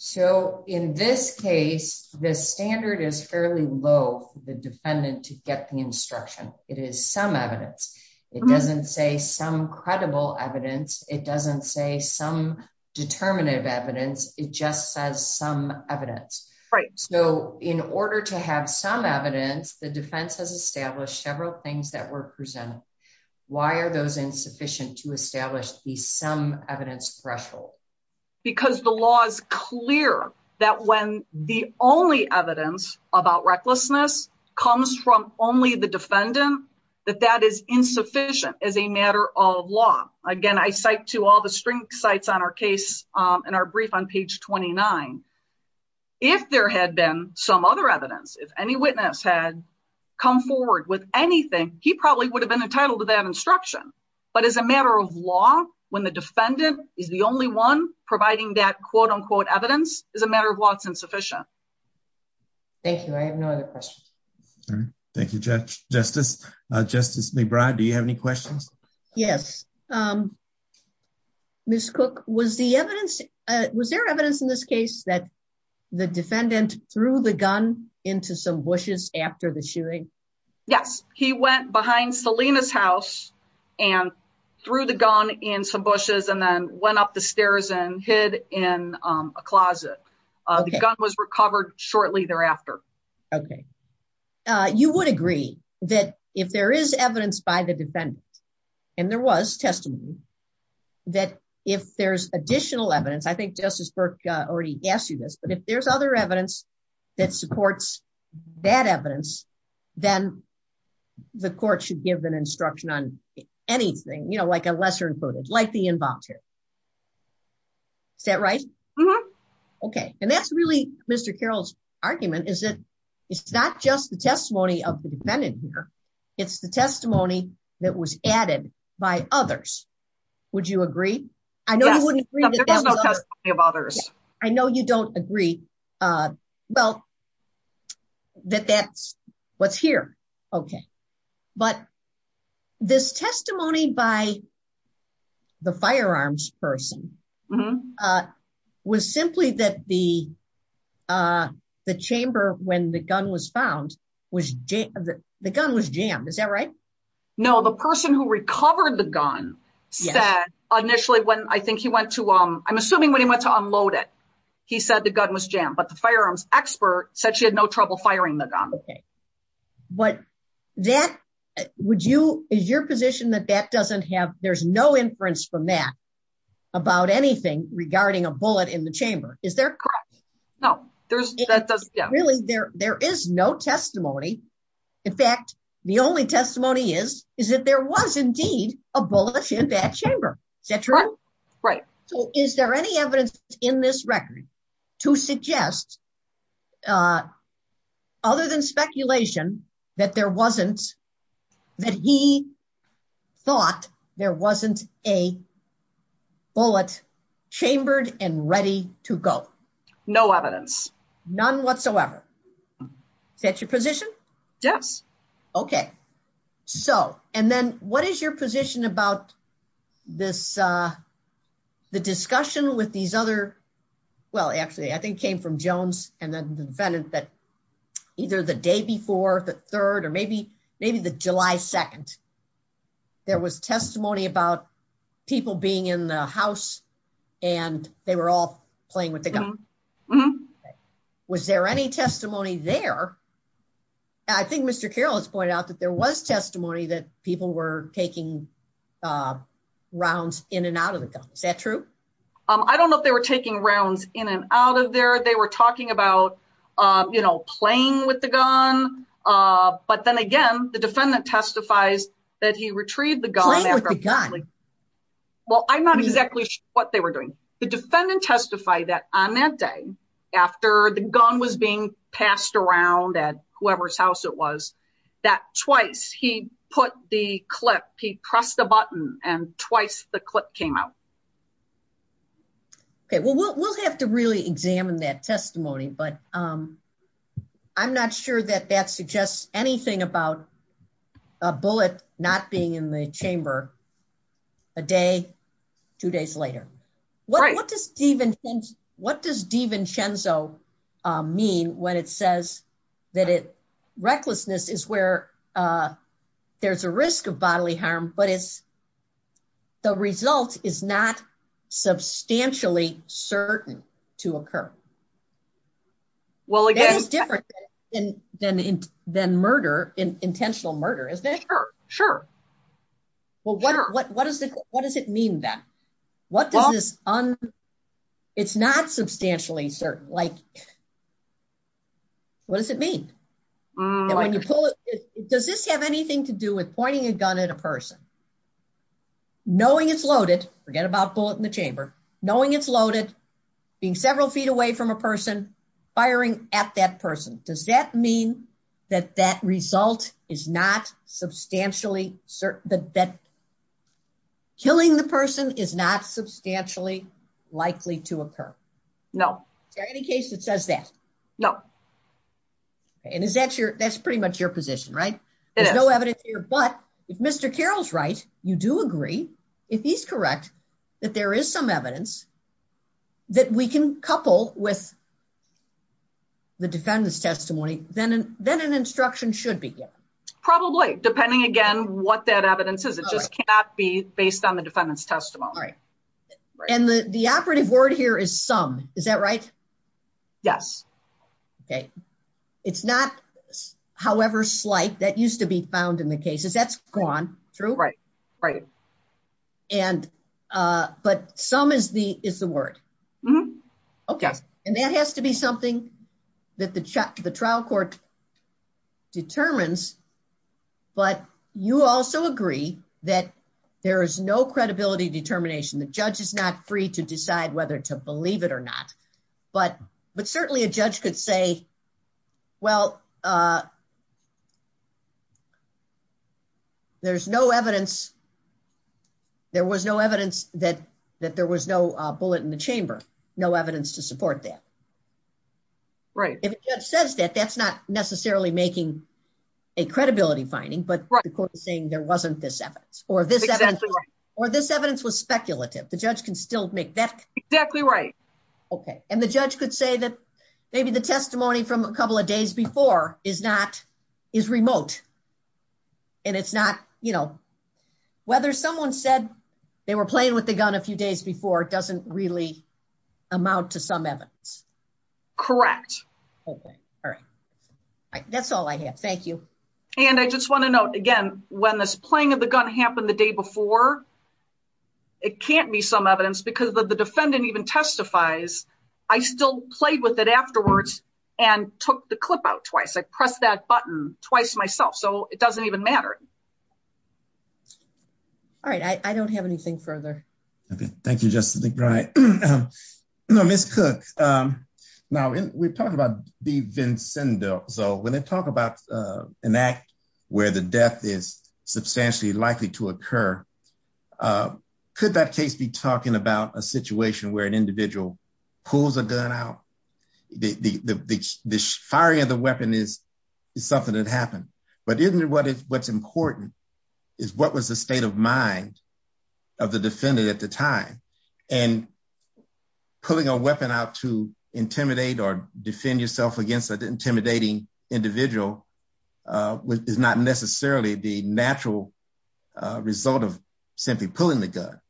So in this case, the standard is fairly low for the defendant to get the instruction. It is some evidence. It doesn't say some credible evidence. It doesn't say some determinative evidence. It just says some evidence. Right. So in order to have some evidence, the defense has established several things that were presented. Why are those insufficient to establish the some evidence threshold? Because the law is clear that when the only evidence about recklessness comes from only the defendant, that that is insufficient as a matter of law. Again, I cite to all the string sites on our case in our brief on page 29. If there had been some other evidence, if any witness had come forward with anything, he probably would have been entitled to that instruction. But as a matter of law, when the defendant is the only one providing that quote unquote evidence is a matter of law, it's insufficient. Thank you. I have no other questions. Thank you, Judge Justice. Justice McBride, do you have any questions? Yes. Miss Cook, was the evidence was there evidence in this case that the defendant threw the gun into some bushes after the shooting? Yes. He went behind Selena's house and threw the gun in some bushes and then went up the stairs and hid in a closet. The gun was recovered shortly thereafter. Okay. You would agree that if there is evidence by the defendant, and there was testimony, that if there's additional evidence, I think Justice Burke already asked you this, but if there's other evidence that supports that evidence, then the court should give an instruction on anything, you know, like a lesser included, like the involved here. Is that right? Okay. And that's really Mr. Carroll's argument is that it's not just the testimony of the defendant here. It's the testimony that was added by others. Would you agree? I know you wouldn't agree. Others. I know you don't agree. Well, that that's what's here. Okay. But this testimony by the firearms person was simply that the chamber when the gun was found was the gun was jammed. Is that right? No, the person who recovered the gun said initially when I think he went to I'm assuming when he went to unload it, he said the gun was jammed, but the firearms expert said she had no trouble firing the gun. But that would you is your position that that doesn't have there's no inference from that about anything regarding a bullet in the chamber. Is there? No, there's really there. There is no testimony. In fact, the only testimony is, is that there was indeed a bullet in that chamber. Is that right? Right. So is there any evidence in this record to suggest other than speculation that there wasn't that he thought there wasn't a bullet chambered and ready to go? No evidence. None whatsoever. Is that your position? Yes. Okay. So, and then what is your position about this? The discussion with these other? Well, actually, I think came from Jones and then the defendant that either the day before the third or maybe, maybe the July 2nd, there was testimony about people being in the house and they were all playing with the gun. Was there any testimony there? I think Mr. Carroll has pointed out that there was testimony that people were taking rounds in and out of the gun. Is that true? I don't know if they were taking rounds in and out of there. They were talking about, you know, playing with the gun. But then again, the defendant testifies that he retrieved the gun. Well, I'm not exactly sure what they were doing. The defendant testified that on that day, after the gun was being passed around at whoever's house it was, that twice he put the clip, he pressed the button and twice the clip came out. Okay. Well, we'll have to really examine that testimony, but I'm not sure that that suggests anything about a bullet not being in the chamber a day, two days later. What does DiVincenzo mean when it says that recklessness is where there's a risk of bodily harm, but it's the result is not substantially certain to occur. Well, it is different than intentional murder, isn't it? Sure, sure. Well, what does it mean then? What does this, it's not substantially certain, like, what does it mean? Does this have anything to do with pointing a gun at a person? Knowing it's loaded, forget about bullet in the chamber, knowing it's loaded, being several feet away from a person, firing at that person, does that mean that that result is not substantially certain, that killing the person is not substantially likely to occur? No. Is there any case that says that? No. And is that your, that's pretty much your position, right? There's no evidence here, but if Mr. Carroll's right, you do agree, if he's correct, that there is some evidence that we can couple with the defendant's testimony, then an instruction should be given. Probably, depending, again, what that evidence is. It just cannot be based on the defendant's testimony. And the operative word here is some, is that right? Yes. Okay. It's not however slight, that used to be found in the cases, that's gone, true? Right, right. And, but some is the word. Okay. And that has to be something that the trial court determines, but you also agree that there is no credibility determination. The judge is not free to decide whether to believe it or not, but certainly a judge could say, well, there's no evidence, there was no evidence that there was no bullet in the chamber, no evidence to support that. Right. If a judge says that, that's not necessarily making a credibility finding, but the court is saying there wasn't this evidence or this evidence was speculative. The judge can still make that. Exactly right. Okay. And the judge could say that maybe the testimony from a couple of days before is not, is remote. And it's not, you know, whether someone said they were playing with the gun a few days before, doesn't really amount to some evidence. Correct. All right. That's all I have. Thank you. And I just want to note again, when this playing of the gun happened the day before, it can't be some evidence because the defendant even testifies. I still played with it afterwards and took the clip out twice. I pressed that button twice myself. So it doesn't even matter. All right. I don't have anything further. Okay. Thank you, Justice McBride. No, Ms. Cook. Now, we're talking about the Vincenzo. When they talk about an act where the death is substantially likely to occur, could that case be talking about a situation where an individual pulls a gun out? The firing of the weapon is something that happened, but isn't it what's important is what was the state of mind of the defendant at the time? And pulling a weapon out to intimidate or defend yourself against an intimidating individual is not necessarily the natural result of simply pulling the gun.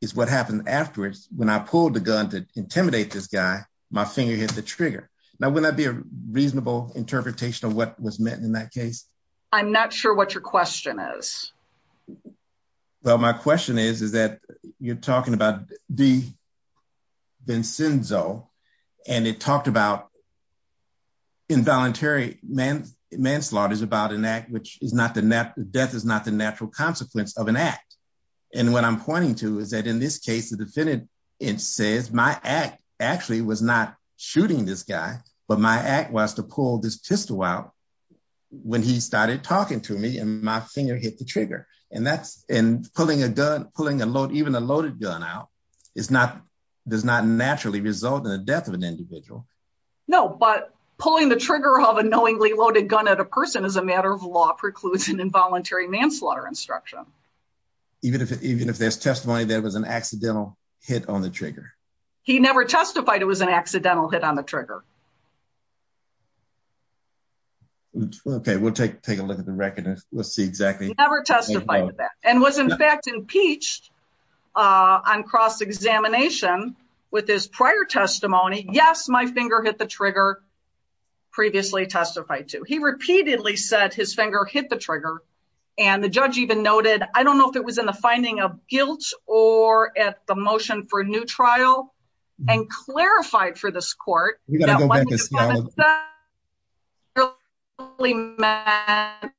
It's what happened afterwards. When I pulled the gun to intimidate this guy, my finger hit the trigger. Now, would that be a reasonable interpretation of what was meant in that case? I'm not sure what your question is. Well, my question is, is that you're talking about the Vincenzo, and it talked about involuntary manslaughter is about an act which is not the death is not the natural consequence of an act. And what I'm pointing to is that in this case, the defendant, it says my act actually was not shooting this guy, but my act was to pull this pistol out. When he started talking to me and my finger hit the trigger, and that's in pulling a gun, pulling a load, even a loaded gun out. It's not does not naturally result in the death of an individual. No, but pulling the trigger of a knowingly loaded gun at a person as a matter of law precludes an involuntary manslaughter instruction. Even if even if there's testimony, there was an accidental hit on the trigger. He never testified it was an accidental hit on the trigger. Okay, we'll take take a look at the record. Let's see. Exactly. Never testified that and was in fact impeached on cross examination with his prior testimony. Yes, my finger hit the trigger. Previously testified to he repeatedly said his finger hit the trigger and the judge even noted I don't know if it was in the finding of guilt or at the motion for a new trial and clarified for this court. Man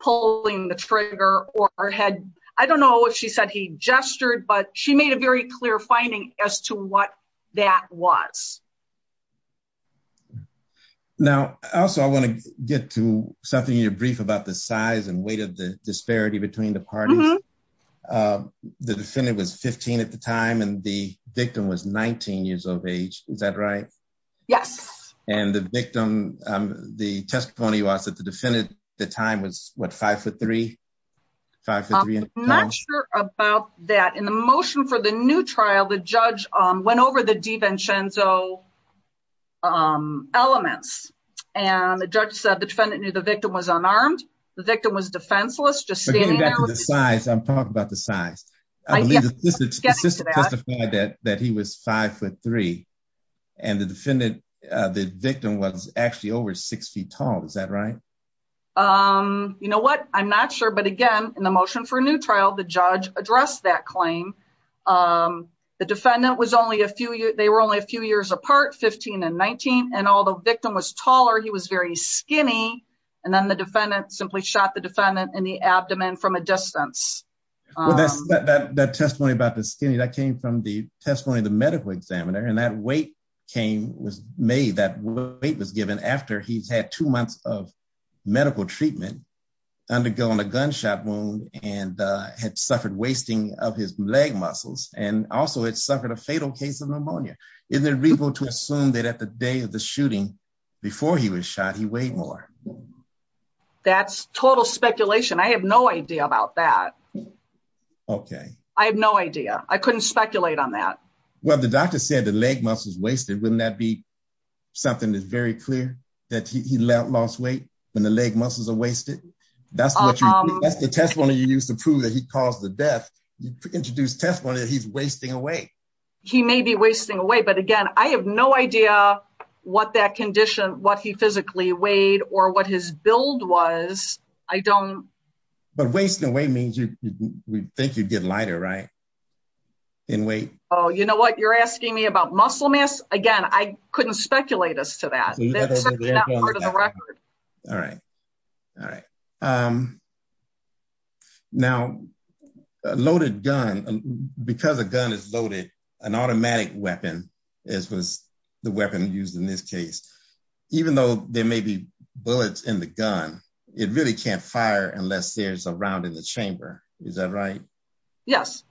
pulling the trigger or had I don't know if she said he gestured, but she made a very clear finding as to what that was. Now, also, I want to get to something you're brief about the size and weight of the disparity between the parties. The defendant was 15 at the time and the victim was 19 years of age. Is that right? Yes. And the victim, the testimony was that the defendant. The time was what five foot three. Five. Not sure about that in the motion for the new trial, the judge went over the defense and so elements and the judge said the defendant knew the victim was unarmed. The victim was defenseless. Just standing back to the size. I'm talking about the size. This is that he was five foot three. And the defendant, the victim was actually over six feet tall. Is that right? You know what? I'm not sure. But again, in the motion for a new trial, the judge addressed that claim. The defendant was only a few years. They were only a few years apart, 15 and 19. And although victim was taller, he was very skinny. And then the defendant simply shot the defendant in the abdomen from a distance. Well, that's that testimony about the skinny that came from the testimony, the medical examiner. And that weight came was made. That weight was given after he's had two months of medical treatment, undergoing a gunshot wound and had suffered wasting of his leg muscles. And also it suffered a fatal case of pneumonia in the repo to assume that at the day of the shooting before he was shot, he weighed more. That's total speculation. I have no idea about that. Okay. I have no idea. I couldn't speculate on that. Well, the doctor said the leg muscles wasted. Wouldn't that be something that's very clear that he lost weight when the leg muscles are wasted. That's the testimony you used to prove that he caused the death. You introduced testimony that he's wasting away. He may be wasting away. But again, I have no idea what that condition, what he physically weighed or what his build was. I don't. But wasting away means you think you'd get lighter, right? In weight. Oh, you know what? You're asking me about muscle mass. Again, I couldn't speculate us to that part of the record. All right. All right. Now, a loaded gun, because a gun is loaded, an automatic weapon, as was the weapon used in this case, even though there may be bullets in the gun, it really can't fire unless there's a round in the chamber. Is that right? Yes.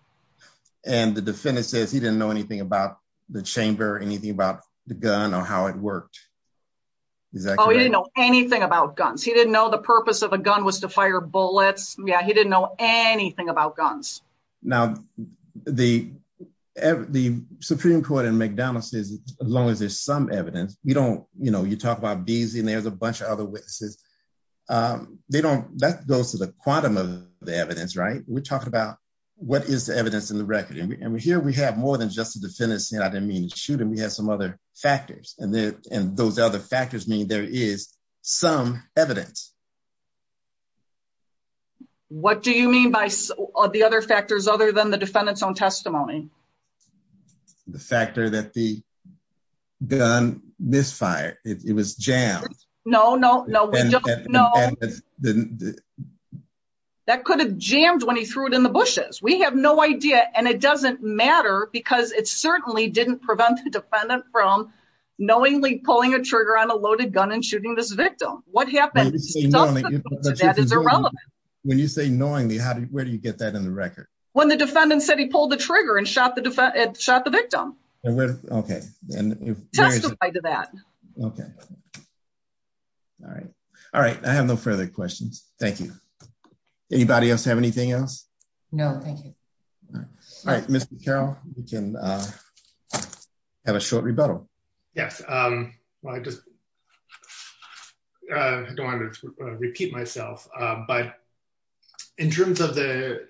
And the defendant says he didn't know anything about the chamber, anything about the gun or how it worked. Oh, he didn't know anything about guns. He didn't know the purpose of a gun was to fire bullets. Yeah. He didn't know anything about guns. Now, the Supreme Court in McDonald's says as long as there's some evidence, you talk about Beazley and there's a bunch of other witnesses. That goes to the quantum of the evidence, right? We're talking about what is the evidence in the record. And here we have more than just the defendant saying I didn't mean to shoot him. We have some other factors. And those other factors mean there is some evidence. What do you mean by the other factors other than the defendant's own testimony? The factor that the gun misfired, it was jammed. No, no, no, we don't know. That could have jammed when he threw it in the bushes. We have no idea. And it doesn't matter because it certainly didn't prevent the defendant from knowingly pulling a trigger on a loaded gun and shooting this victim. What happened is irrelevant. When you say knowingly, where do you get that in the record? When the defendant said he pulled the trigger and shot the victim. Okay. Testify to that. Okay. All right. All right. I have no further questions. Thank you. Anybody else have anything else? No, thank you. All right. Mr. Carroll, you can have a short rebuttal. Yes. Well, I just don't want to repeat myself. But in terms of the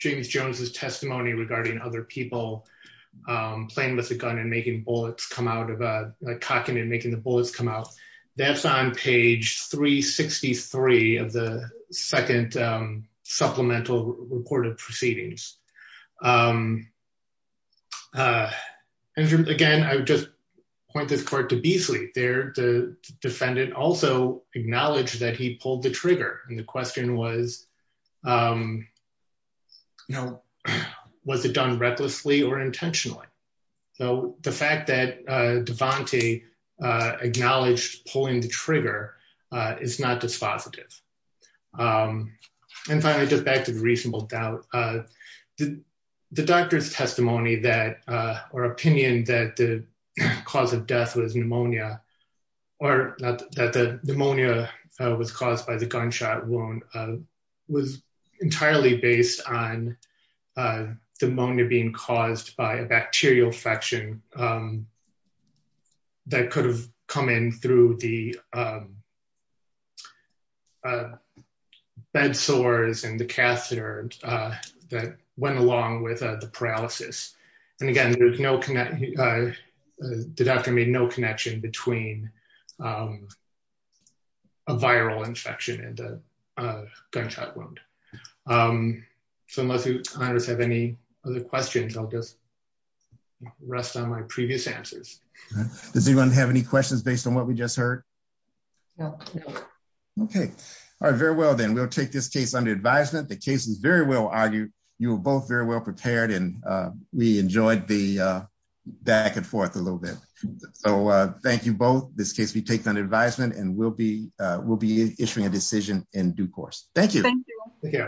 James Jones's testimony regarding other people playing with a gun and making bullets come out of a cocking and making the bullets come out, that's on page 363 of the second supplemental report of proceedings. Again, I would just point this court to Beasley. The defendant also acknowledged that he pulled the trigger. And the question was, was it done recklessly or intentionally? So the fact that Devante acknowledged pulling the trigger is not dispositive. And finally, just back to the reasonable doubt. The doctor's testimony or opinion that the cause of death was pneumonia, or that the pneumonia was caused by the gunshot wound was entirely based on the pneumonia being caused by a bacterial infection that could have come in through the bed sores and the catheter that went along with the paralysis. And again, the doctor made no connection between a viral infection and a gunshot wound. So unless you have any other questions, I'll just rest on my previous answers. Does anyone have any questions based on what we just heard? No. Okay. All right. Very well, then we'll take this case under advisement. The case is very well argued. You were both very well prepared, and we enjoyed the back and forth a little bit. So thank you both. This case will be taken under advisement, and we'll be issuing a decision in due course. Thank you. Thank you.